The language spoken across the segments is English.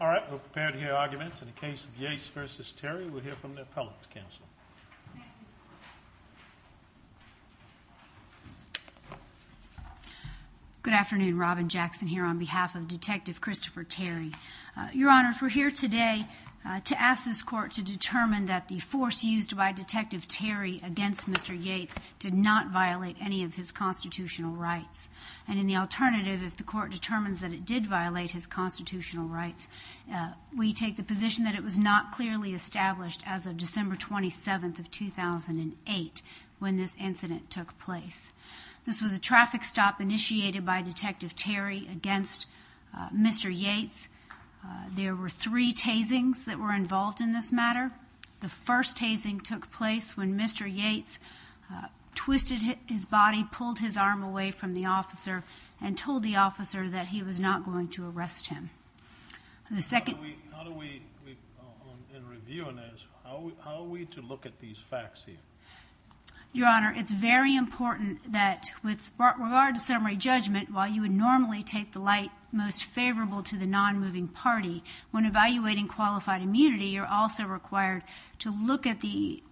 All right, we're prepared to hear arguments in the case of Yates v. Terry. We'll hear from the Appellate's Council. Good afternoon. Robin Jackson here on behalf of Detective Christopher Terry. Your Honor, we're here today to ask this Court to determine that the force used by Detective Terry against Mr. Yates did not violate any of his constitutional rights. And in the alternative, if the Court determines that it did violate his constitutional rights, we take the position that it was not clearly established as of December 27, 2008, when this incident took place. This was a traffic stop initiated by Detective Terry against Mr. Yates. There were three tasings that were involved in this matter. The first tasing took place when Mr. Yates twisted his body, pulled his arm away from the officer, and told the officer that he was not going to arrest him. How do we, in reviewing this, how are we to look at these facts here? Your Honor, it's very important that with regard to summary judgment, while you would normally take the light most favorable to the non-moving party, when evaluating qualified immunity, you're also required to look at the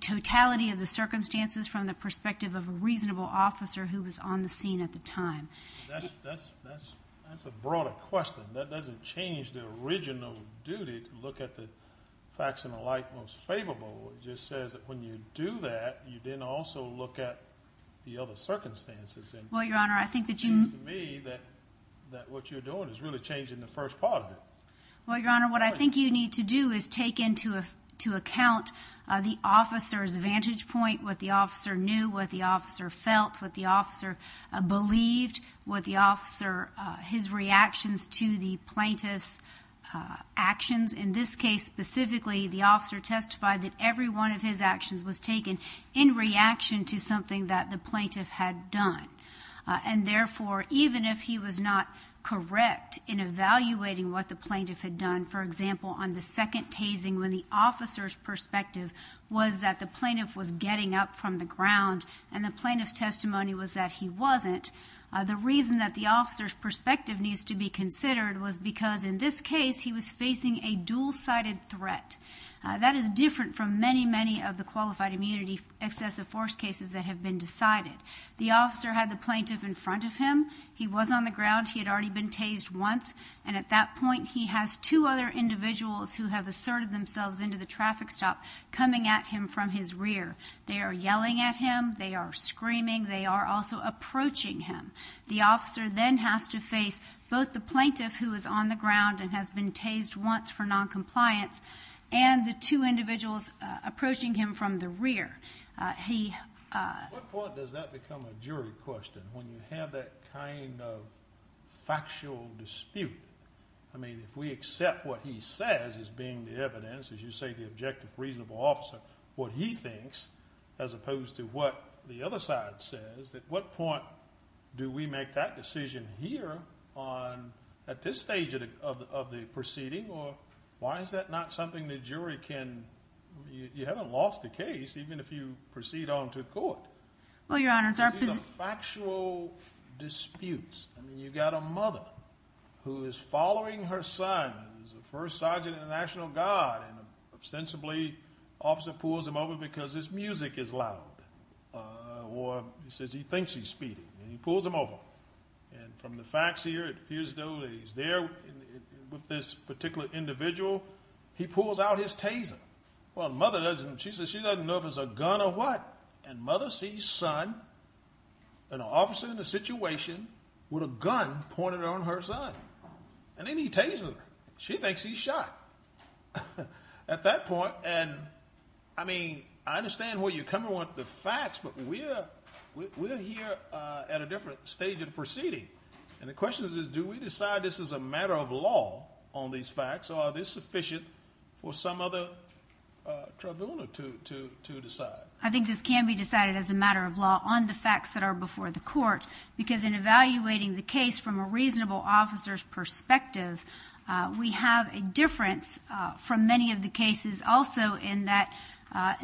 totality of the circumstances from the perspective of a reasonable officer who was on the scene at the time. That's a broader question. That doesn't change the original duty to look at the facts in the light most favorable. It just says that when you do that, you then also look at the other circumstances. Well, Your Honor, I think that you... It seems to me that what you're doing is really changing the first part of it. Well, Your Honor, what I think you need to do is take into account the officer's vantage point, what the officer knew, what the officer felt, what the officer believed, what the officer, his reactions to the plaintiff's actions. In this case, specifically, the officer testified that every one of his actions was taken in reaction to something that the plaintiff had done. And therefore, even if he was not correct in evaluating what the plaintiff had done, for example, on the second tasing, when the officer's perspective was that the plaintiff was getting up from the ground and the plaintiff's testimony was that he wasn't, the reason that the officer's perspective needs to be considered was because in this case, he was facing a dual-sided threat. That is different from many, many of the qualified immunity excessive force cases that have been decided. The officer had the plaintiff in front of him. He was on the ground. He had already been tased once. And at that point, he has two other individuals who have asserted themselves into the traffic stop coming at him from his rear. They are yelling at him. They are screaming. They are also approaching him. The officer then has to face both the plaintiff, who is on the ground and has been tased once for noncompliance, and the two individuals approaching him from the rear. At what point does that become a jury question, when you have that kind of factual dispute? I mean, if we accept what he says as being the evidence, as you say, the objective reasonable officer, what he thinks, as opposed to what the other side says, at what point do we make that decision here on, at this stage of the proceeding? Or why is that not something the jury can, you haven't lost the case, even if you proceed on to court. Well, Your Honor, it's our position. These are factual disputes. I mean, you've got a mother who is following her son, who is the first sergeant in the National Guard, and ostensibly, the officer pulls him over because his music is loud. Or he says he thinks he's speeding, and he pulls him over. And from the facts here, it appears, though, that he's there with this particular individual. He pulls out his taser. Well, mother doesn't, she says she doesn't know if it's a gun or what. And mother sees son, an officer in a situation with a gun pointed on her son. And then he tasers her. She thinks he's shot. At that point, and, I mean, I understand where you're coming with the facts, but we're here at a different stage of the proceeding. And the question is, do we decide this is a matter of law on these facts, or are these sufficient for some other tribunal to decide? I think this can be decided as a matter of law on the facts that are before the court, because in evaluating the case from a reasonable officer's perspective, we have a difference from many of the cases also in that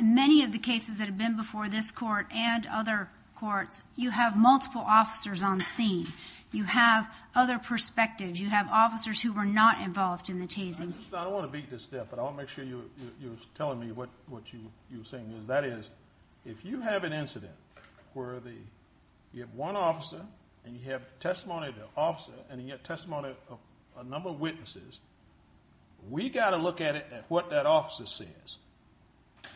many of the cases that have been before this court and other courts, you have multiple officers on the scene. You have other perspectives. You have officers who were not involved in the tasing. I don't want to beat this step, but I want to make sure you're telling me what you're saying. That is, if you have an incident where you have one officer and you have testimony of the officer and you have testimony of a number of witnesses, we've got to look at it at what that officer says,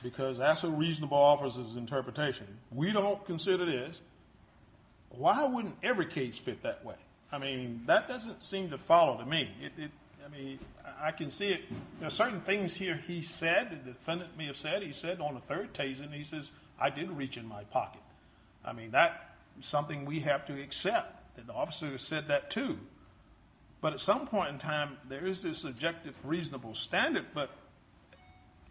because that's a reasonable officer's interpretation. We don't consider this. Why wouldn't every case fit that way? I mean, that doesn't seem to follow to me. I mean, I can see it. There are certain things here he said, the defendant may have said. He said on the third tasing, he says, I didn't reach in my pocket. I mean, that's something we have to accept, that the officer said that too. But at some point in time, there is this objective reasonable standard, but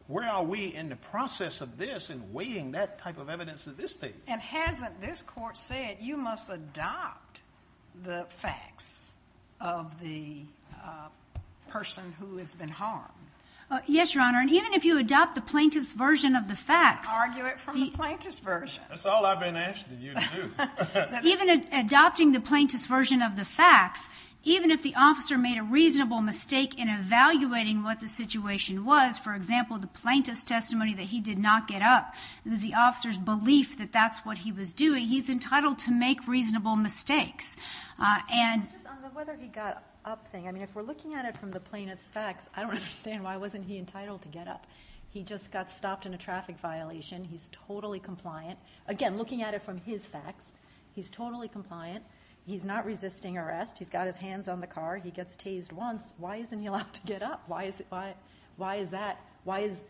where are we in the process of this and weighing that type of evidence at this stage? And hasn't this court said you must adopt the facts of the person who has been harmed? Yes, Your Honor, and even if you adopt the plaintiff's version of the facts. Argue it from the plaintiff's version. That's all I've been asking you to do. Even adopting the plaintiff's version of the facts, even if the officer made a reasonable mistake in evaluating what the situation was, for example, the plaintiff's testimony that he did not get up, it was the officer's belief that that's what he was doing. He's entitled to make reasonable mistakes. On the whether he got up thing, I mean, if we're looking at it from the plaintiff's facts, I don't understand why wasn't he entitled to get up. He just got stopped in a traffic violation. He's totally compliant. Again, looking at it from his facts, he's totally compliant. He's not resisting arrest. He's got his hands on the car. He gets tased once. Why isn't he allowed to get up? Why is that? Why is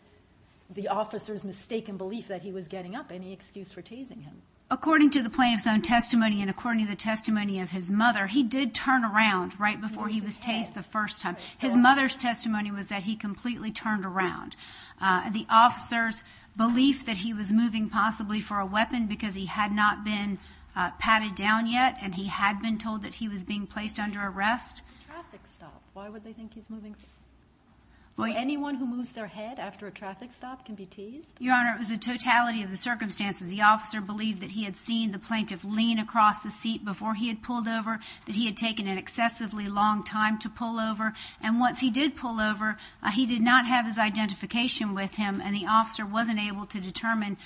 the officer's mistaken belief that he was getting up any excuse for tasing him? According to the plaintiff's own testimony and according to the testimony of his mother, he did turn around right before he was tased the first time. His mother's testimony was that he completely turned around. The officer's belief that he was moving possibly for a weapon because he had not been patted down yet and he had been told that he was being placed under arrest. Why would they think he's moving? So anyone who moves their head after a traffic stop can be tased? Your Honor, it was the totality of the circumstances. The officer believed that he had seen the plaintiff lean across the seat before he had pulled over, that he had taken an excessively long time to pull over, and once he did pull over, he did not have his identification with him and the officer wasn't able to determine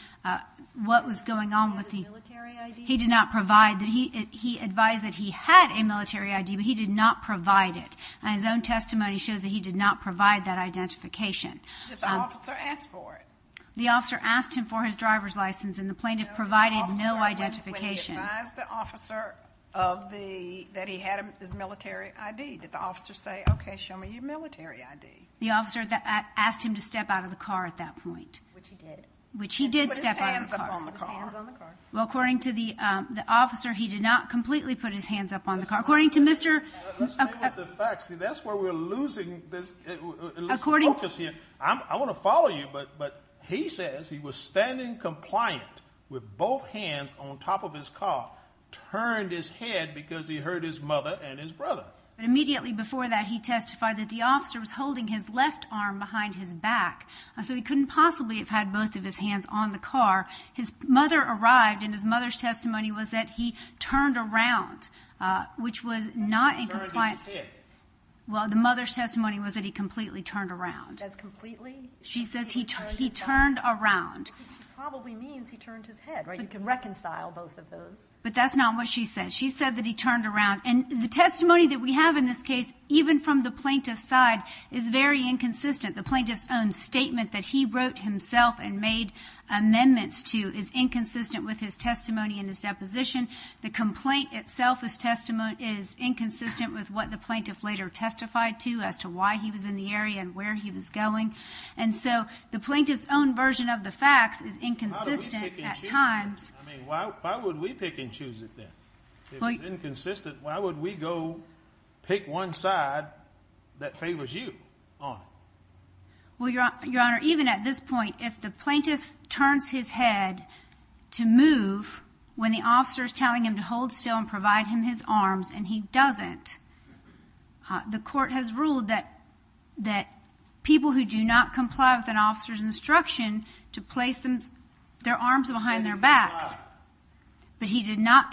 what was going on with the— He had a military ID? He did not provide—he advised that he had a military ID, but he did not provide it. His own testimony shows that he did not provide that identification. Did the officer ask for it? The officer asked him for his driver's license and the plaintiff provided no identification. When he advised the officer that he had his military ID, did the officer say, okay, show me your military ID? The officer asked him to step out of the car at that point. Which he did. Which he did step out of the car. He put his hands up on the car. He put his hands on the car. Well, according to the officer, he did not completely put his hands up on the car. According to Mr.— Let's stay with the facts. See, that's where we're losing this focus here. I want to follow you, but he says he was standing compliant with both hands on top of his car, turned his head because he heard his mother and his brother. Immediately before that, he testified that the officer was holding his left arm behind his back, so he couldn't possibly have had both of his hands on the car. His mother arrived, and his mother's testimony was that he turned around, which was not in compliance— He turned his head. Well, the mother's testimony was that he completely turned around. Says completely? She says he turned around. Which probably means he turned his head, right? You can reconcile both of those. But that's not what she said. She said that he turned around. And the testimony that we have in this case, even from the plaintiff's side, is very inconsistent. The plaintiff's own statement that he wrote himself and made amendments to is inconsistent with his testimony and his deposition. The complaint itself as testimony is inconsistent with what the plaintiff later testified to as to why he was in the area and where he was going. And so the plaintiff's own version of the facts is inconsistent at times. Why would we pick and choose it then? If it's inconsistent, why would we go pick one side that favors you on it? Well, Your Honor, even at this point, if the plaintiff turns his head to move when the officer is telling him to hold still and provide him his arms and he doesn't, the court has ruled that people who do not comply with an officer's instruction to place their arms behind their backs. But he did not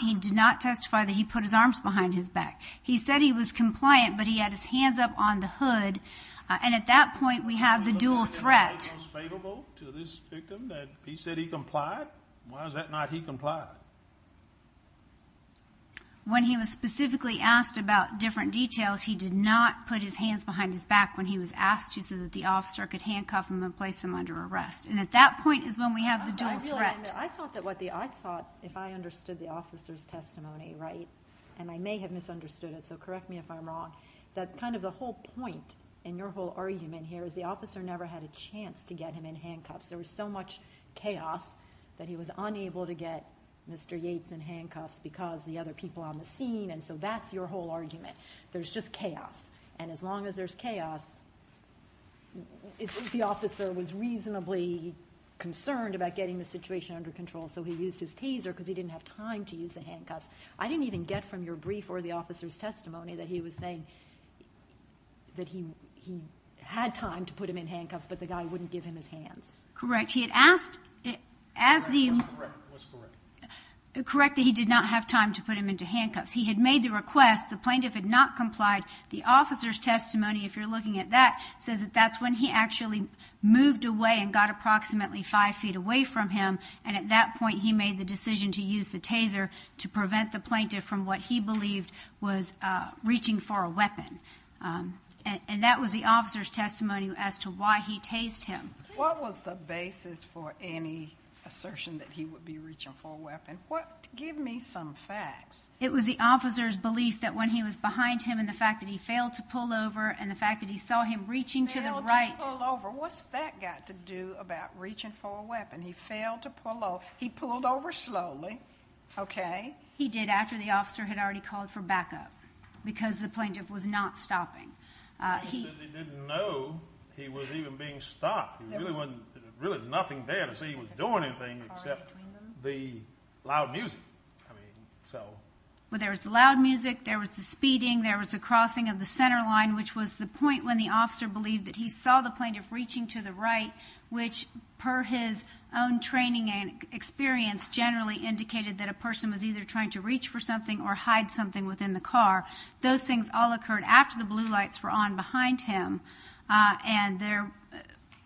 testify that he put his arms behind his back. He said he was compliant, but he had his hands up on the hood. And at that point we have the dual threat. He said he complied. Why is it not he complied? When he was specifically asked about different details, he did not put his hands behind his back when he was asked to so that the officer could handcuff him and place him under arrest. And at that point is when we have the dual threat. I thought if I understood the officer's testimony right, and I may have misunderstood it, so correct me if I'm wrong, that kind of the whole point in your whole argument here is the officer never had a chance to get him in handcuffs. There was so much chaos that he was unable to get Mr. Yates in handcuffs because of the other people on the scene, and so that's your whole argument. There's just chaos. And as long as there's chaos, the officer was reasonably concerned about getting the situation under control, so he used his taser because he didn't have time to use the handcuffs. I didn't even get from your brief or the officer's testimony that he was saying that he had time to put him in handcuffs, but the guy wouldn't give him his hands. Correct. He had asked as the... It was correct. It was correct that he did not have time to put him into handcuffs. He had made the request. The plaintiff had not complied. The officer's testimony, if you're looking at that, says that that's when he actually moved away and got approximately 5 feet away from him, and at that point he made the decision to use the taser to prevent the plaintiff from what he believed was reaching for a weapon, and that was the officer's testimony as to why he tased him. What was the basis for any assertion that he would be reaching for a weapon? Give me some facts. It was the officer's belief that when he was behind him and the fact that he failed to pull over and the fact that he saw him reaching to the right... What's that got to do about reaching for a weapon? He failed to pull over. He pulled over slowly, okay? He did after the officer had already called for backup because the plaintiff was not stopping. He said he didn't know he was even being stopped. There was really nothing there to say he was doing anything except the loud music. Well, there was the loud music, there was the speeding, there was the crossing of the center line, which was the point when the officer believed that he saw the plaintiff reaching to the right, which, per his own training and experience, generally indicated that a person was either trying to reach for something or hide something within the car. Those things all occurred after the blue lights were on behind him and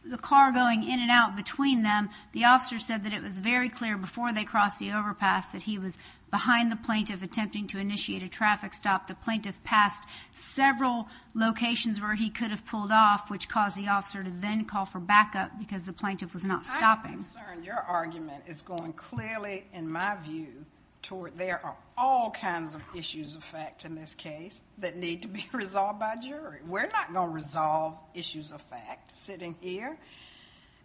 the car going in and out between them. The officer said that it was very clear before they crossed the overpass that he was behind the plaintiff attempting to initiate a traffic stop. The plaintiff passed several locations where he could have pulled off, which caused the officer to then call for backup because the plaintiff was not stopping. I'm concerned your argument is going clearly, in my view, toward there are all kinds of issues of fact in this case that need to be resolved by a jury. We're not going to resolve issues of fact sitting here.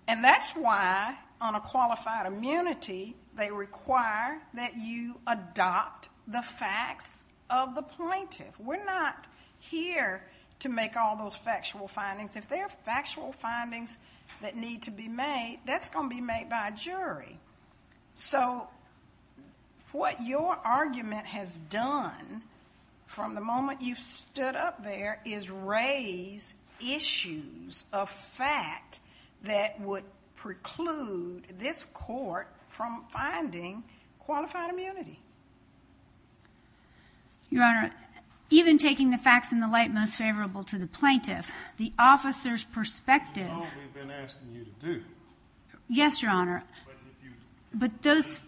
And that's why, on a qualified immunity, they require that you adopt the facts of the plaintiff. We're not here to make all those factual findings. If there are factual findings that need to be made, that's going to be made by a jury. So what your argument has done from the moment you've stood up there is raise issues of fact that would preclude this court from finding qualified immunity. Your Honor, even taking the facts in the light most favorable to the plaintiff, the officer's perspective. That's all we've been asking you to do. Yes, Your Honor. But if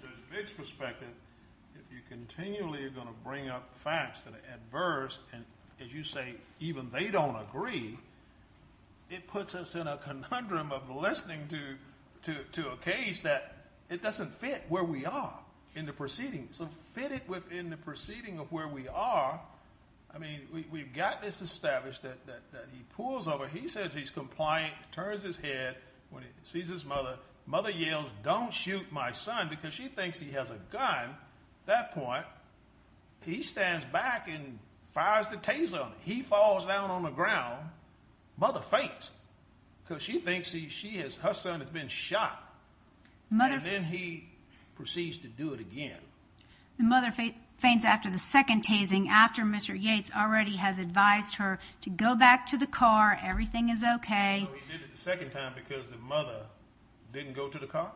you continue to bring up facts that are adverse, and as you say, even they don't agree, it puts us in a conundrum of listening to a case that doesn't fit where we are in the proceedings. It doesn't fit it within the proceeding of where we are. I mean, we've got this established that he pulls over. He says he's compliant, turns his head when he sees his mother. Mother yells, don't shoot my son because she thinks he has a gun. At that point, he stands back and fires the taser. He falls down on the ground. Mother fakes it because she thinks her son has been shot. And then he proceeds to do it again. The mother feigns after the second tasing, after Mr. Yates already has advised her to go back to the car, everything is okay. So he did it the second time because the mother didn't go to the car?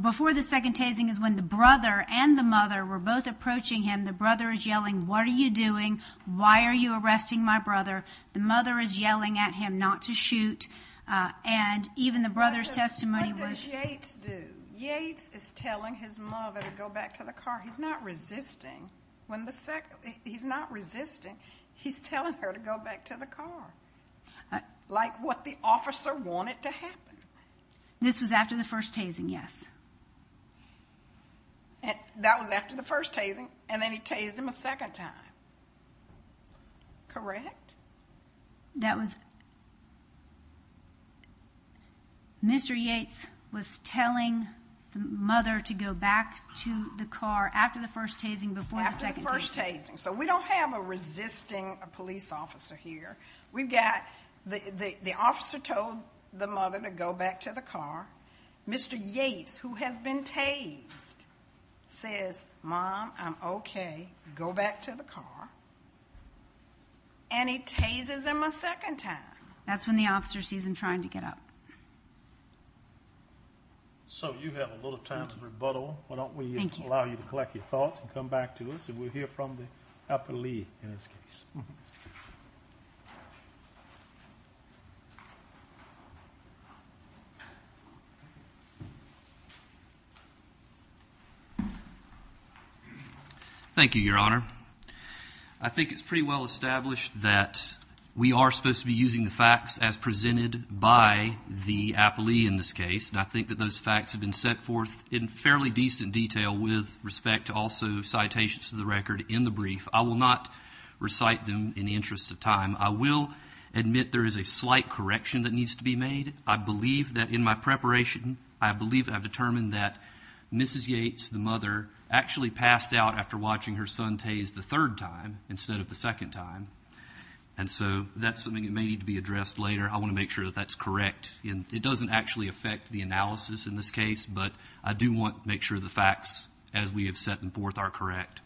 Before the second tasing is when the brother and the mother were both approaching him. The brother is yelling, what are you doing? Why are you arresting my brother? The mother is yelling at him not to shoot. And even the brother's testimony was. What does Yates do? Yates is telling his mother to go back to the car. He's not resisting. He's not resisting. He's telling her to go back to the car. Like what the officer wanted to happen. This was after the first tasing, yes. That was after the first tasing, and then he tased him a second time. Correct? That was Mr. Yates was telling the mother to go back to the car after the first tasing, before the second tasing. After the first tasing. So we don't have a resisting police officer here. We've got the officer told the mother to go back to the car. Mr. Yates, who has been tased, says, Mom, I'm okay, go back to the car. And he tases him a second time. That's when the officer sees him trying to get up. So you have a little time to rebuttal. Why don't we allow you to collect your thoughts and come back to us, and we'll hear from the upper lead in this case. Thank you. Thank you, Your Honor. I think it's pretty well established that we are supposed to be using the facts as presented by the appellee in this case, and I think that those facts have been set forth in fairly decent detail with respect to also citations to the record in the brief. I will not recite them in the interest of time. I will admit there is a slight correction that needs to be made. I believe that in my preparation, I believe I've determined that Mrs. Yates, the mother, actually passed out after watching her son tase the third time instead of the second time. And so that's something that may need to be addressed later. I want to make sure that that's correct. It doesn't actually affect the analysis in this case, but I do want to make sure the facts as we have set them forth are correct.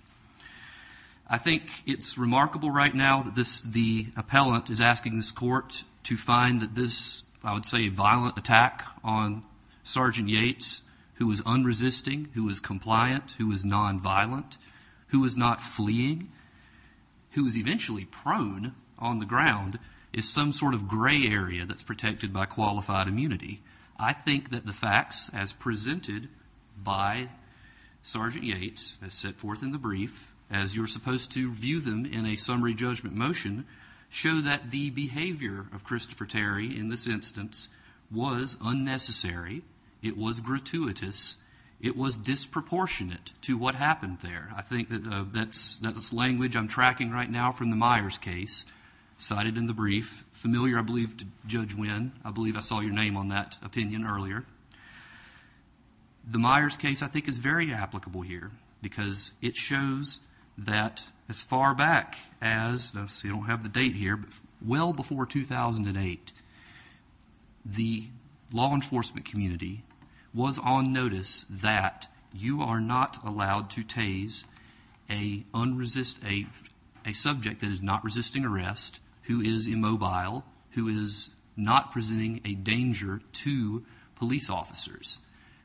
I think it's remarkable right now that the appellant is asking this court to find that this, I would say, violent attack on Sergeant Yates, who was unresisting, who was compliant, who was nonviolent, who was not fleeing, who was eventually prone on the ground, is some sort of gray area that's protected by qualified immunity. I think that the facts as presented by Sergeant Yates as set forth in the brief, as you're supposed to view them in a summary judgment motion, show that the behavior of Christopher Terry in this instance was unnecessary. It was gratuitous. It was disproportionate to what happened there. I think that that's language I'm tracking right now from the Myers case cited in the brief. Familiar, I believe, to Judge Winn. I believe I saw your name on that opinion earlier. The Myers case, I think, is very applicable here because it shows that as far back as, I see I don't have the date here, but well before 2008, the law enforcement community was on notice that you are not allowed to tase a subject that is not resisting arrest, who is immobile, who is not presenting a danger to police officers.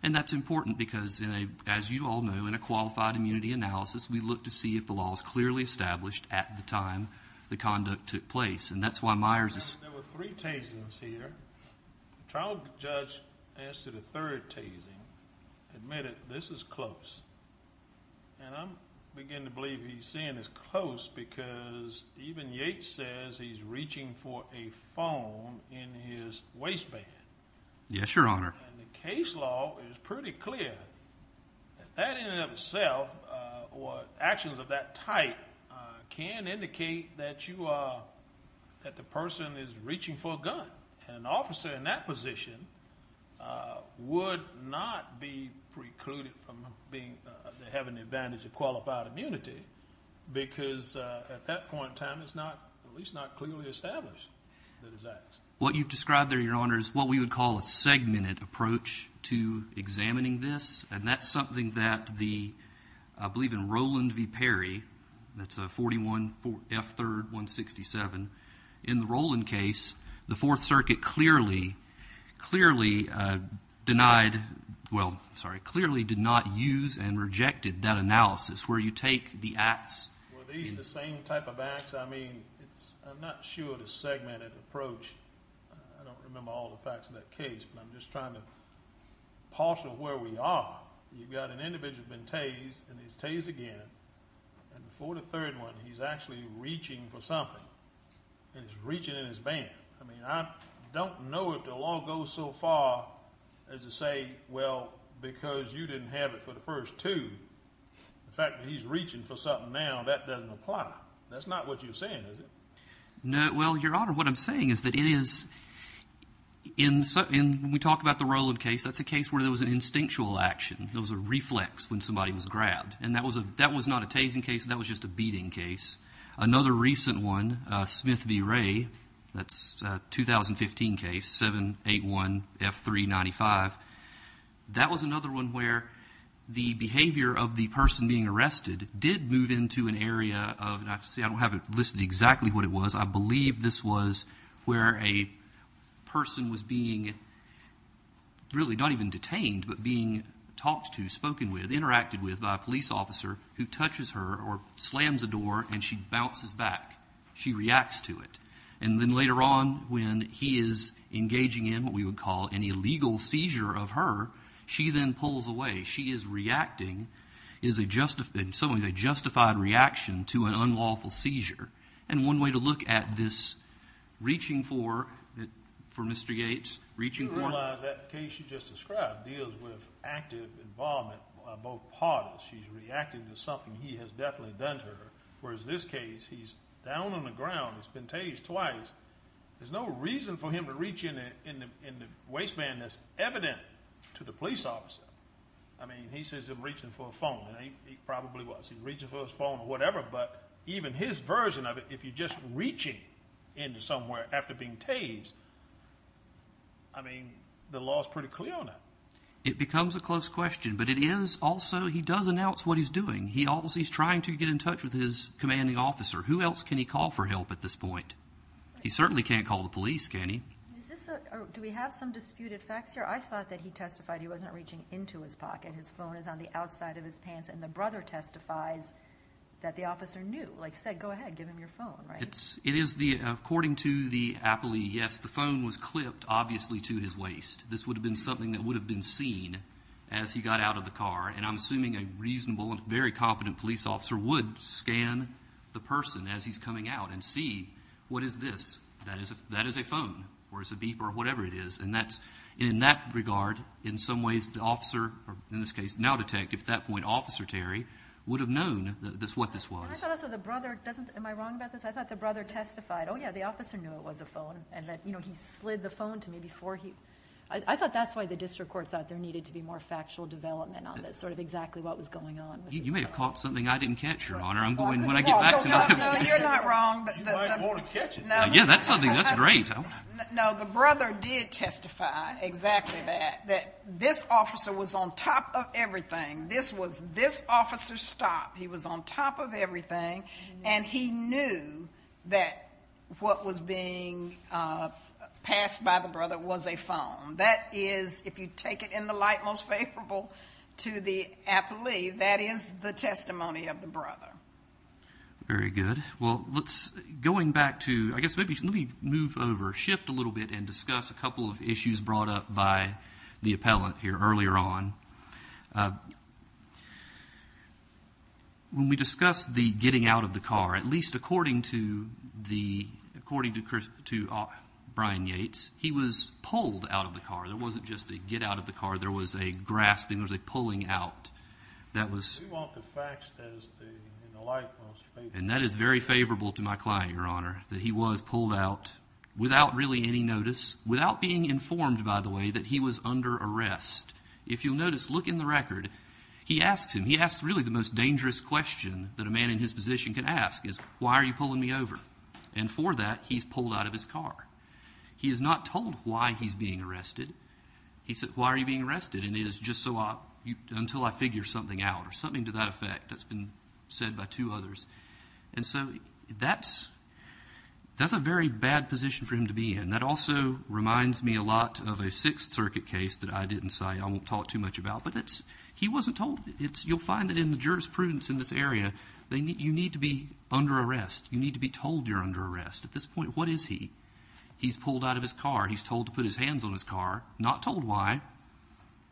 And that's important because, as you all know, in a qualified immunity analysis, we look to see if the law is clearly established at the time the conduct took place. And that's why Myers is— There were three tasings here. The trial judge asked for the third tasing, admitted this is close. And I'm beginning to believe he's saying it's close because even Yates says he's reaching for a phone in his waistband. Yes, Your Honor. And the case law is pretty clear. That in and of itself or actions of that type can indicate that you are—that the person is reaching for a gun. An officer in that position would not be precluded from having the advantage of qualified immunity because at that point in time it's not—at least not clearly established that it's at. What you've described there, Your Honor, is what we would call a segmented approach to examining this. And that's something that the—I believe in Rowland v. Perry, that's 41 F. 3rd 167, in the Rowland case, the Fourth Circuit clearly denied—well, sorry, clearly did not use and rejected that analysis where you take the acts— Well, these are the same type of acts. I mean, I'm not sure the segmented approach—I don't remember all the facts of that case, but I'm just trying to partial where we are. You've got an individual who's been tased, and he's tased again, and before the third one he's actually reaching for something, and he's reaching in his band. I mean, I don't know if the law goes so far as to say, well, because you didn't have it for the first two, the fact that he's reaching for something now, that doesn't apply. That's not what you're saying, is it? Well, Your Honor, what I'm saying is that it is—when we talk about the Rowland case, that's a case where there was an instinctual action. There was a reflex when somebody was grabbed. And that was not a tasing case. That was just a beating case. Another recent one, Smith v. Ray, that's a 2015 case, 781 F. 395. That was another one where the behavior of the person being arrested did move into an area of— see, I don't have it listed exactly what it was. I believe this was where a person was being really not even detained, but being talked to, spoken with, interacted with by a police officer who touches her or slams a door, and she bounces back. She reacts to it. And then later on, when he is engaging in what we would call an illegal seizure of her, she then pulls away. She is reacting. It's a justified reaction to an unlawful seizure. And one way to look at this reaching for Mr. Yates, reaching for— You realize that case you just described deals with active involvement by both parties. She's reacting to something he has definitely done to her, whereas this case, he's down on the ground. He's been tased twice. There's no reason for him to reach in the waistband that's evident to the police officer. I mean, he says he's reaching for a phone, and he probably was. He's reaching for his phone or whatever, but even his version of it, if you're just reaching into somewhere after being tased, I mean, the law is pretty clear on that. It becomes a close question, but it is also—he does announce what he's doing. He's trying to get in touch with his commanding officer. Who else can he call for help at this point? He certainly can't call the police, can he? Do we have some disputed facts here? I thought that he testified he wasn't reaching into his pocket. His phone is on the outside of his pants, and the brother testifies that the officer knew, like said, go ahead, give him your phone, right? It is the—according to the appellee, yes, the phone was clipped, obviously, to his waist. This would have been something that would have been seen as he got out of the car, and I'm assuming a reasonable and very competent police officer would scan the person as he's coming out and see what is this. That is a phone, or it's a beep, or whatever it is. In that regard, in some ways, the officer, or in this case, now detective at that point, Officer Terry, would have known what this was. I thought also the brother—am I wrong about this? I thought the brother testified, oh, yeah, the officer knew it was a phone, and that he slid the phone to me before he— I thought that's why the district court thought there needed to be more factual development on this, sort of exactly what was going on. You may have caught something I didn't catch, Your Honor. I'm going—when I get back to my— No, you're not wrong. You might want to catch it. Yeah, that's something. That's great. No, the brother did testify exactly that, that this officer was on top of everything. This was this officer's stop. He was on top of everything, and he knew that what was being passed by the brother was a phone. That is, if you take it in the light most favorable to the appellee, that is the testimony of the brother. Very good. Well, let's—going back to—I guess maybe let me move over, shift a little bit, and discuss a couple of issues brought up by the appellant here earlier on. When we discussed the getting out of the car, at least according to the—according to Brian Yates, he was pulled out of the car. It wasn't just a get out of the car. There was a grasping. There was a pulling out. That was— We want the facts as the light most favorable. And that is very favorable to my client, Your Honor, that he was pulled out without really any notice, without being informed, by the way, that he was under arrest. If you'll notice, look in the record. He asks him. He asks really the most dangerous question that a man in his position can ask is, why are you pulling me over? And for that, he's pulled out of his car. He is not told why he's being arrested. He says, why are you being arrested? And it is just so I—until I figure something out or something to that effect. That's been said by two others. And so that's a very bad position for him to be in. That also reminds me a lot of a Sixth Circuit case that I didn't cite. I won't talk too much about. But it's—he wasn't told. You'll find that in the jurisprudence in this area, you need to be under arrest. You need to be told you're under arrest. At this point, what is he? He's pulled out of his car. He's told to put his hands on his car, not told why.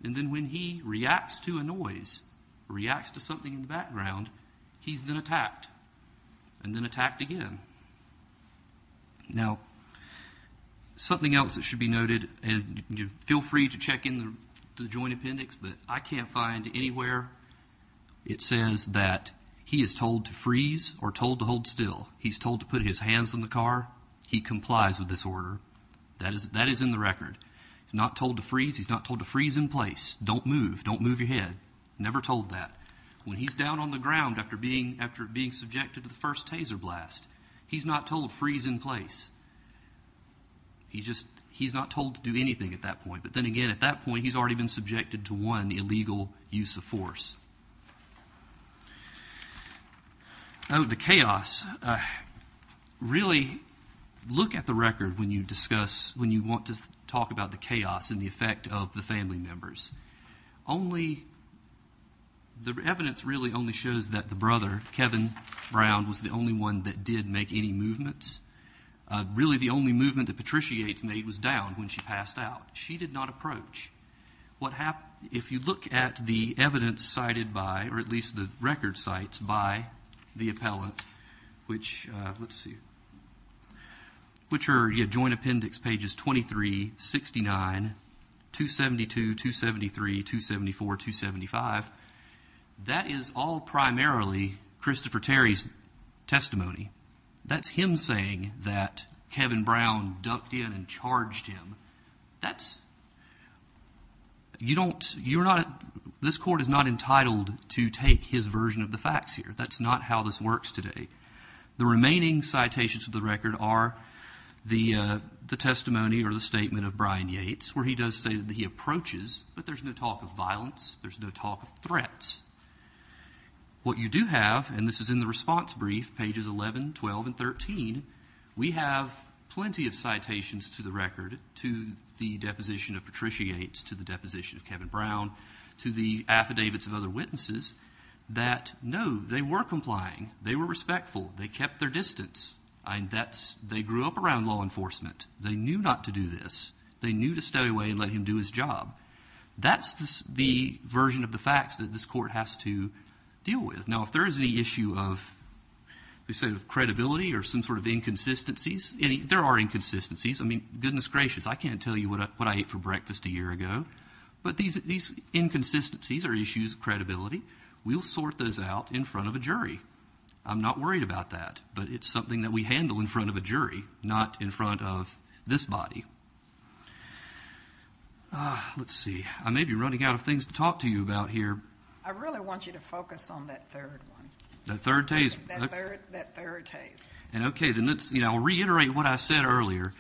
And then when he reacts to a noise, reacts to something in the background, he's then attacked and then attacked again. Now, something else that should be noted, and feel free to check in the Joint Appendix, but I can't find anywhere it says that he is told to freeze or told to hold still. He's told to put his hands on the car. He complies with this order. That is in the record. He's not told to freeze. He's not told to freeze in place. Don't move. Don't move your head. Never told that. When he's down on the ground after being subjected to the first taser blast, he's not told freeze in place. He's not told to do anything at that point. But then again, at that point, he's already been subjected to one illegal use of force. Oh, the chaos. Really, look at the record when you want to talk about the chaos and the effect of the family members. The evidence really only shows that the brother, Kevin Brown, was the only one that did make any movements. Really, the only movement that Patricia Yates made was down when she passed out. She did not approach. If you look at the evidence cited by, or at least the record cites by, the appellant, which are joint appendix pages 23, 69, 272, 273, 274, 275, that is all primarily Christopher Terry's testimony. That's him saying that Kevin Brown dumped in and charged him. This court is not entitled to take his version of the facts here. That's not how this works today. The remaining citations of the record are the testimony or the statement of Brian Yates where he does say that he approaches, but there's no talk of violence. There's no talk of threats. What you do have, and this is in the response brief, pages 11, 12, and 13, we have plenty of citations to the record, to the deposition of Patricia Yates, to the deposition of Kevin Brown, to the affidavits of other witnesses, that, no, they were complying. They were respectful. They kept their distance. They grew up around law enforcement. They knew not to do this. They knew to stay away and let him do his job. That's the version of the facts that this court has to deal with. Now, if there is any issue of, let's say, of credibility or some sort of inconsistencies, there are inconsistencies. I mean, goodness gracious, I can't tell you what I ate for breakfast a year ago. But these inconsistencies or issues of credibility, we'll sort those out in front of a jury. I'm not worried about that, but it's something that we handle in front of a jury, not in front of this body. Let's see. I may be running out of things to talk to you about here. I really want you to focus on that third one. That third taste. That third taste. Okay. Then I'll reiterate what I said earlier.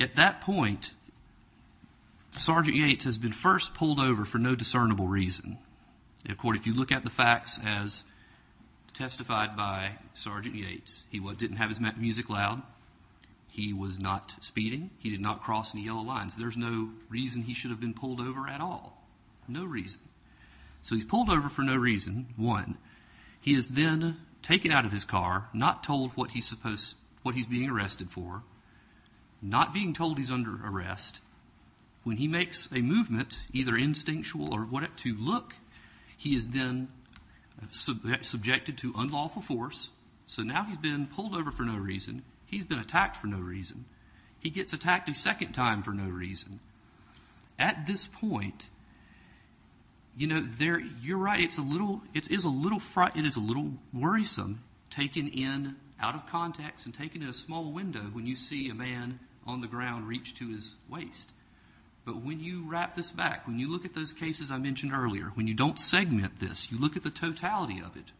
At that point, Sergeant Yates has been first pulled over for no discernible reason. Of course, if you look at the facts as testified by Sergeant Yates, he didn't have his music loud, he was not speeding, he did not cross any yellow lines. There's no reason he should have been pulled over at all. No reason. So he's pulled over for no reason, one. He is then taken out of his car, not told what he's being arrested for, not being told he's under arrest. When he makes a movement, either instinctual or what it to look, he is then subjected to unlawful force. So now he's been pulled over for no reason. He's been attacked for no reason. He gets attacked a second time for no reason. At this point, you know, you're right. It is a little worrisome taken in out of context and taken in a small window when you see a man on the ground reach to his waist. But when you wrap this back, when you look at those cases I mentioned earlier, when you don't segment this, you look at the totality of it,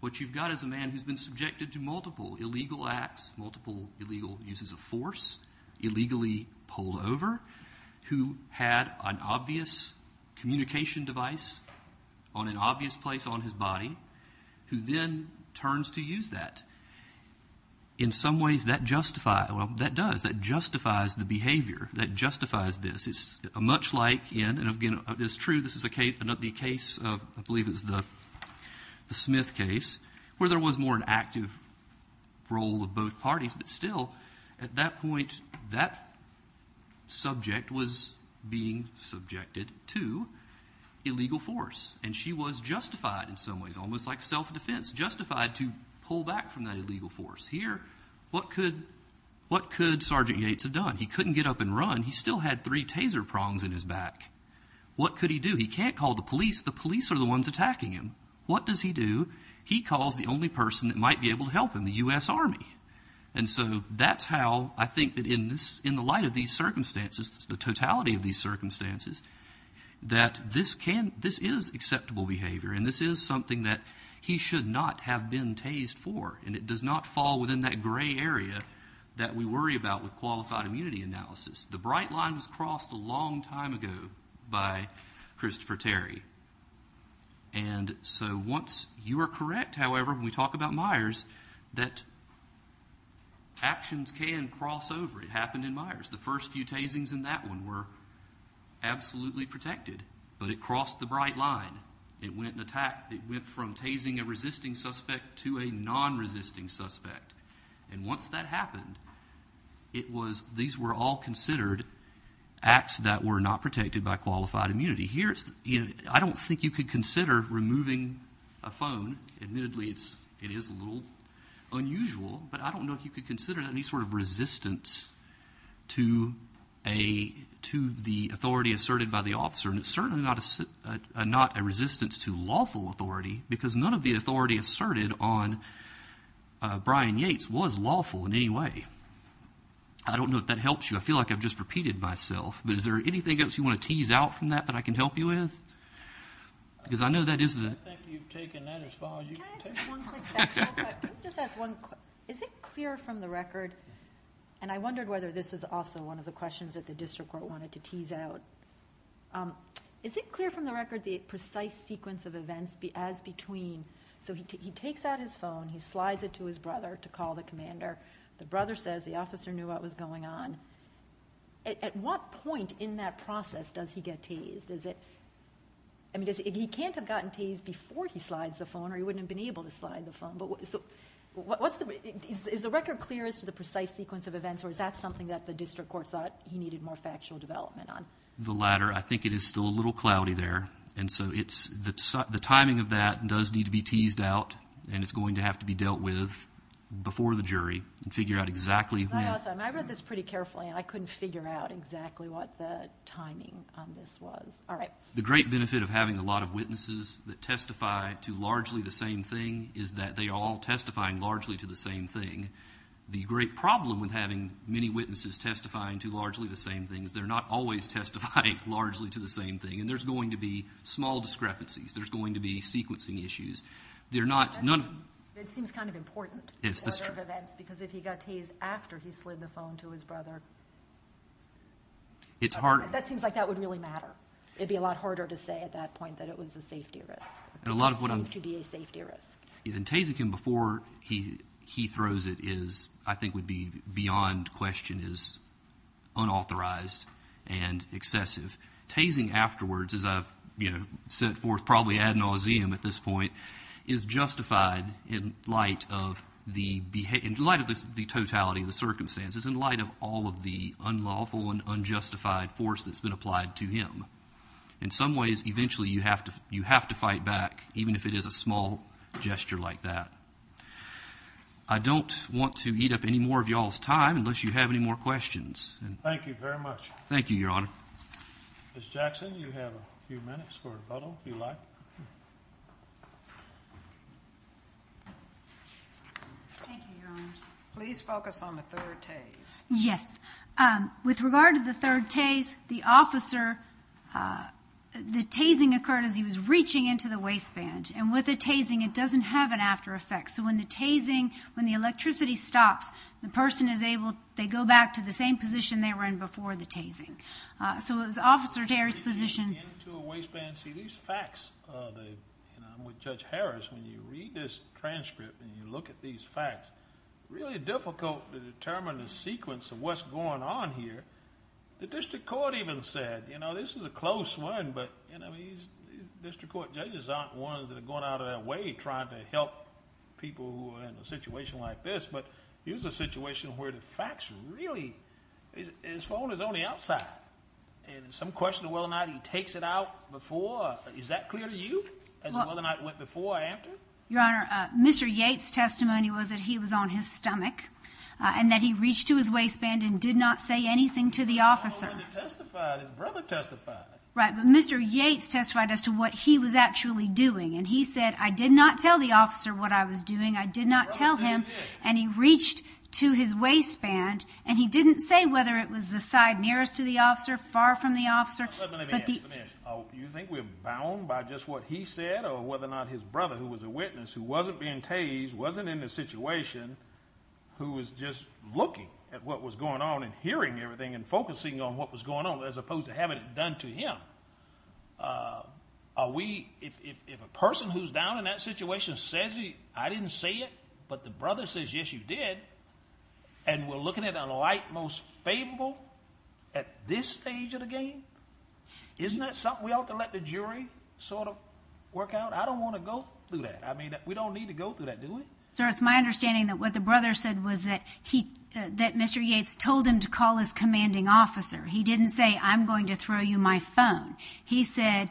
what you've got is a man who's been subjected to multiple illegal acts, multiple illegal uses of force, illegally pulled over, who had an obvious communication device on an obvious place on his body, who then turns to use that. In some ways that justifies, well, that does, that justifies the behavior, that justifies this. It's much like in, and again, it's true, this is a case, the case of, I believe it's the Smith case, where there was more an active role of both parties, but still at that point that subject was being subjected to illegal force. And she was justified in some ways, almost like self-defense, justified to pull back from that illegal force. Here, what could Sergeant Yates have done? He couldn't get up and run. He still had three taser prongs in his back. What could he do? He can't call the police. The police are the ones attacking him. What does he do? He calls the only person that might be able to help him, the U.S. Army. And so that's how I think that in the light of these circumstances, the totality of these circumstances, that this is acceptable behavior, and this is something that he should not have been tased for, and it does not fall within that gray area that we worry about with qualified immunity analysis. The bright line was crossed a long time ago by Christopher Terry. And so once you are correct, however, when we talk about Myers, that actions can cross over. It happened in Myers. The first few tasings in that one were absolutely protected, but it crossed the bright line. It went from tasing a resisting suspect to a non-resisting suspect. And once that happened, these were all considered acts that were not protected by qualified immunity. I don't think you could consider removing a phone. Admittedly, it is a little unusual, but I don't know if you could consider any sort of resistance to the authority asserted by the officer. And it's certainly not a resistance to lawful authority because none of the authority asserted on Brian Yates was lawful in any way. I don't know if that helps you. I feel like I've just repeated myself. But is there anything else you want to tease out from that that I can help you with? Because I know that isn't it. I think you've taken that as far as you can take it. Can I ask just one quick question? Can I just ask one quick question? Is it clear from the record, and I wondered whether this is also one of the questions that the district court wanted to tease out. Is it clear from the record the precise sequence of events as between, so he takes out his phone, he slides it to his brother to call the commander. The brother says the officer knew what was going on. At what point in that process does he get teased? I mean, he can't have gotten teased before he slides the phone or he wouldn't have been able to slide the phone. So is the record clear as to the precise sequence of events or is that something that the district court thought he needed more factual development on? The latter. I think it is still a little cloudy there, and so the timing of that does need to be teased out and it's going to have to be dealt with before the jury and figure out exactly when. I read this pretty carefully, and I couldn't figure out exactly what the timing on this was. All right. The great benefit of having a lot of witnesses that testify to largely the same thing is that they are all testifying largely to the same thing. The great problem with having many witnesses testifying to largely the same thing is they're not always testifying largely to the same thing, and there's going to be small discrepancies. It seems kind of important. Yes, that's true. Because if he got tased after he slid the phone to his brother, that seems like that would really matter. It would be a lot harder to say at that point that it was a safety risk. It would seem to be a safety risk. And tasing him before he throws it is, I think would be beyond question, is unauthorized and excessive. Tasing afterwards, as I've set forth probably ad nauseam at this point, is justified in light of the totality of the circumstances, in light of all of the unlawful and unjustified force that's been applied to him. In some ways, eventually you have to fight back, even if it is a small gesture like that. I don't want to eat up any more of y'all's time unless you have any more questions. Thank you very much. Thank you, Your Honor. Ms. Jackson, you have a few minutes for rebuttal, if you like. Thank you, Your Honors. Please focus on the third tase. Yes. With regard to the third tase, the officer, the tasing occurred as he was reaching into the waistband. And with a tasing, it doesn't have an after effect. So when the tasing, when the electricity stops, the person is able, they go back to the same position they were in before the tasing. So it was Officer Terry's position. Into a waistband. See, these facts, and I'm with Judge Harris, when you read this transcript and you look at these facts, it's really difficult to determine the sequence of what's going on here. The district court even said, you know, this is a close one, but district court judges aren't ones that are going out of their way trying to help people who are in a situation like this. But here's a situation where the facts really, his phone is on the outside. And some question of whether or not he takes it out before, is that clear to you, as to whether or not it went before or after? Your Honor, Mr. Yates' testimony was that he was on his stomach and that he reached to his waistband and did not say anything to the officer. He testified, his brother testified. Right, but Mr. Yates testified as to what he was actually doing. And he said, I did not tell the officer what I was doing, I did not tell him, and he reached to his waistband, and he didn't say whether it was the side nearest to the officer, far from the officer. Let me ask, let me ask. Do you think we're bound by just what he said or whether or not his brother, who was a witness, who wasn't being tased, wasn't in the situation, who was just looking at what was going on and hearing everything and focusing on what was going on as opposed to having it done to him? Are we, if a person who's down in that situation says he, I didn't say it, but the brother says, yes, you did, and we're looking at a light most favorable at this stage of the game? Isn't that something we ought to let the jury sort of work out? I don't want to go through that. I mean, we don't need to go through that, do we? Sir, it's my understanding that what the brother said was that Mr. Yates told him to call his commanding officer. He didn't say, I'm going to throw you my phone. He said,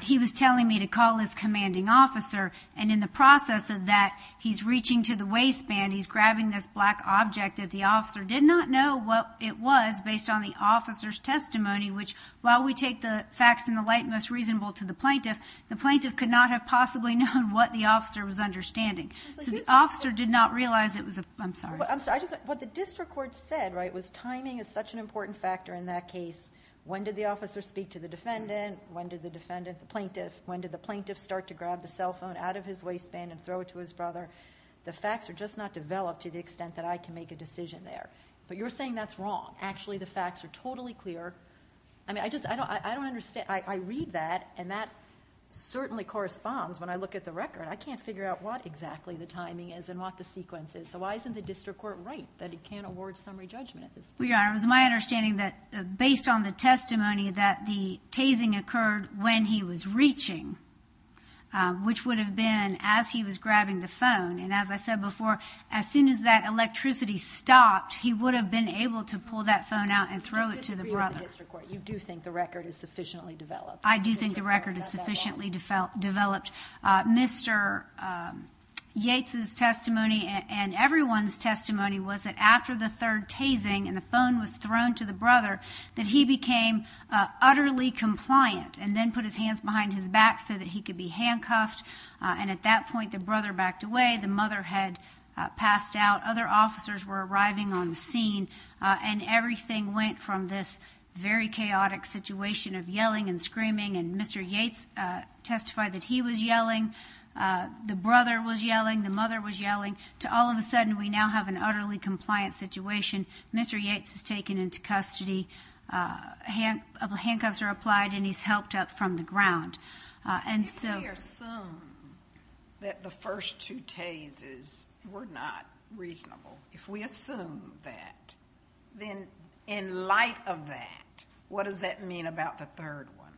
he was telling me to call his commanding officer, and in the process of that, he's reaching to the waistband, he's grabbing this black object that the officer did not know what it was based on the officer's testimony, which while we take the facts in the light most reasonable to the plaintiff, the plaintiff could not have possibly known what the officer was understanding. So the officer did not realize it was a, I'm sorry. What the district court said was timing is such an important factor in that case. When did the defendant, the plaintiff, when did the plaintiff start to grab the cell phone out of his waistband and throw it to his brother? The facts are just not developed to the extent that I can make a decision there. But you're saying that's wrong. Actually, the facts are totally clear. I mean, I just, I don't understand. I read that, and that certainly corresponds when I look at the record. I can't figure out what exactly the timing is and what the sequence is. So why isn't the district court right that it can't award summary judgment at this point? Well, Your Honor, it was my understanding that based on the testimony that the tasing occurred when he was reaching, which would have been as he was grabbing the phone. And as I said before, as soon as that electricity stopped, he would have been able to pull that phone out and throw it to the brother. You disagree with the district court. You do think the record is sufficiently developed. I do think the record is sufficiently developed. Mr. Yates' testimony and everyone's testimony was that after the third tasing and the phone was thrown to the brother, that he became utterly compliant and then put his hands behind his back so that he could be handcuffed. And at that point the brother backed away. The mother had passed out. Other officers were arriving on the scene. And everything went from this very chaotic situation of yelling and screaming, and Mr. Yates testified that he was yelling, the brother was yelling, the mother was yelling, to all of a sudden we now have an utterly compliant situation. Mr. Yates is taken into custody. Handcuffs are applied and he's helped up from the ground. If we assume that the first two tases were not reasonable, if we assume that, then in light of that, what does that mean about the third one?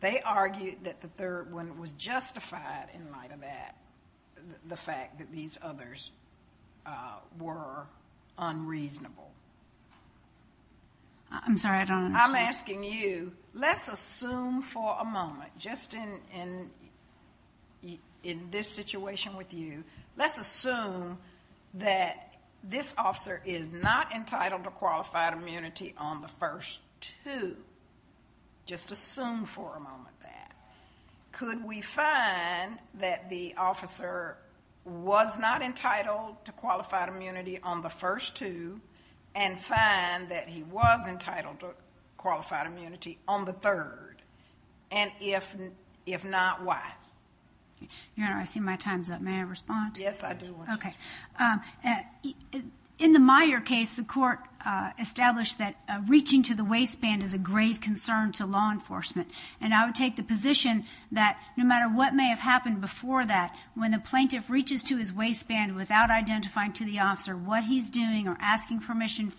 They argue that the third one was justified in light of that, the fact that these others were unreasonable. I'm sorry, I don't understand. I'm asking you, let's assume for a moment, just in this situation with you, let's assume that this officer is not entitled to qualified immunity on the first two. Just assume for a moment that. Could we find that the officer was not entitled to qualified immunity on the first two and find that he was entitled to qualified immunity on the third? And if not, why? Your Honor, I see my time's up. May I respond? Yes, I do. Okay. In the Meyer case, the court established that reaching to the waistband is a grave concern to law enforcement. And I would take the position that no matter what may have happened before that, when the plaintiff reaches to his waistband without identifying to the officer what he's doing or asking permission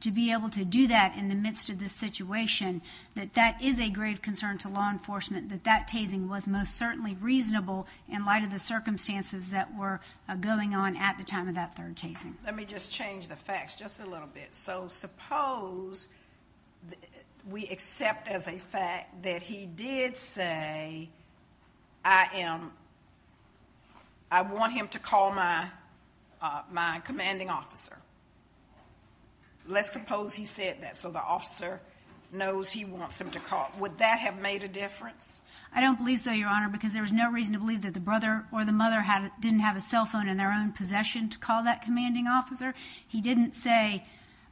to be able to do that in the midst of this situation, that that is a grave concern to law enforcement, that that tasing was most certainly reasonable in light of the circumstances that were going on at the time of that third tasing. Let me just change the facts just a little bit. So suppose we accept as a fact that he did say, I want him to call my commanding officer. Let's suppose he said that so the officer knows he wants him to call. Would that have made a difference? I don't believe so, Your Honor, because there was no reason to believe that the brother or the mother didn't have a cell phone in their own possession to call that commanding officer. He didn't say,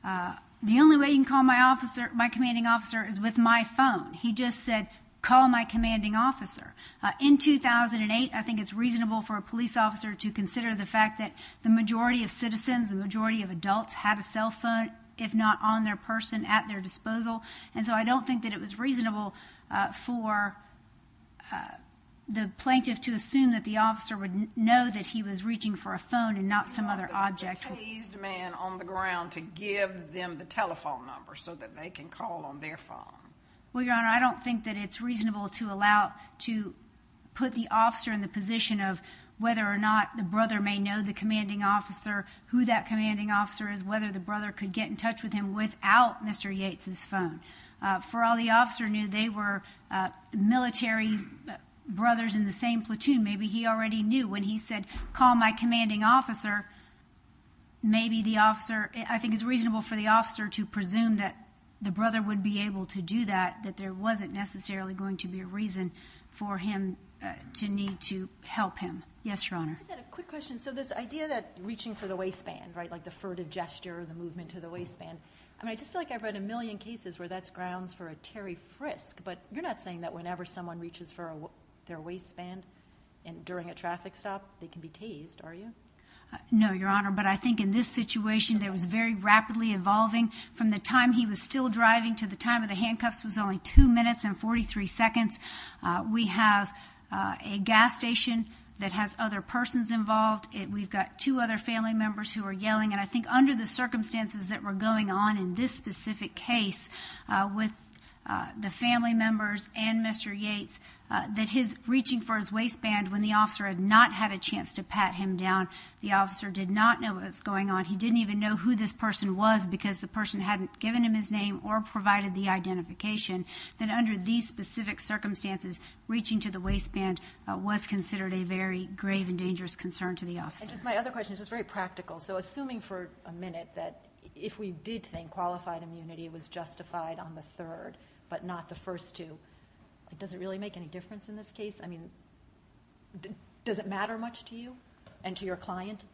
the only way you can call my commanding officer is with my phone. He just said, call my commanding officer. In 2008, I think it's reasonable for a police officer to consider the fact that the majority of citizens, the majority of adults, have a cell phone, if not on their person, at their disposal. And so I don't think that it was reasonable for the plaintiff to assume that the officer would know that he was reaching for a phone and not some other object. You want the tased man on the ground to give them the telephone number so that they can call on their phone. Well, Your Honor, I don't think that it's reasonable to allow, to put the officer in the position of whether or not the brother may know the commanding officer, who that commanding officer is, whether the brother could get in touch with him without Mr. Yates' phone. For all the officer knew, they were military brothers in the same platoon. Maybe he already knew. When he said, call my commanding officer, maybe the officer, I think it's reasonable for the officer to presume that the brother would be able to do that, that there wasn't necessarily going to be a reason for him to need to help him. Yes, Your Honor. I've got a quick question. So this idea that reaching for the waistband, right, like the furtive gesture, the movement to the waistband, I mean, I just feel like I've read a million cases where that's grounds for a Terry Frisk. But you're not saying that whenever someone reaches for their waistband during a traffic stop, they can be tased, are you? No, Your Honor. But I think in this situation, it was very rapidly evolving. From the time he was still driving to the time of the handcuffs was only two minutes and 43 seconds. We have a gas station that has other persons involved. We've got two other family members who are yelling. And I think under the circumstances that were going on in this specific case with the family members and Mr. Yates, that his reaching for his waistband when the officer had not had a chance to pat him down, the officer did not know what was going on, he didn't even know who this person was because the person hadn't given him his name or provided the identification, that under these specific circumstances, reaching to the waistband was considered a very grave and dangerous concern to the officer. My other question is just very practical. So assuming for a minute that if we did think qualified immunity was justified on the third but not the first two, does it really make any difference in this case? I mean, does it matter much to you and to your client?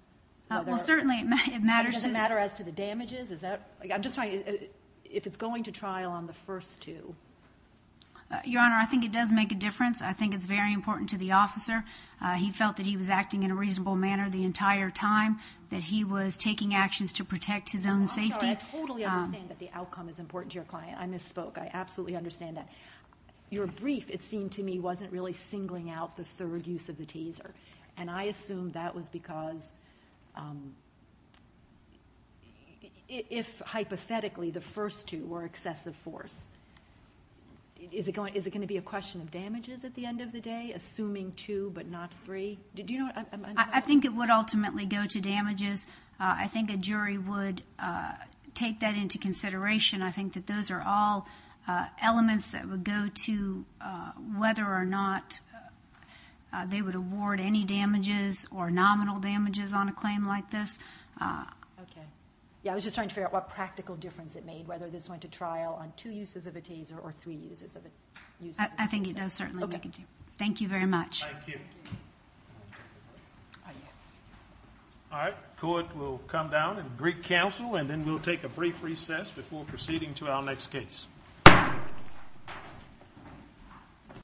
Well, certainly it matters. Does it matter as to the damages? I'm just trying to, if it's going to trial on the first two. Your Honor, I think it does make a difference. I think it's very important to the officer. He felt that he was acting in a reasonable manner the entire time, that he was taking actions to protect his own safety. I'm sorry, I totally understand that the outcome is important to your client. I misspoke. I absolutely understand that. Your brief, it seemed to me, wasn't really singling out the third use of the taser, and I assume that was because if hypothetically the first two were excessive force, is it going to be a question of damages at the end of the day, assuming two but not three? Do you know? I think it would ultimately go to damages. I think a jury would take that into consideration. I think that those are all elements that would go to whether or not they would award any damages or nominal damages on a claim like this. Okay. I was just trying to figure out what practical difference it made, whether this went to trial on two uses of a taser or three uses of a taser. I think it does certainly make a difference. Okay. Thank you very much. Thank you. All right. The court will come down and greet counsel, and then we'll take a brief recess before proceeding to our next case.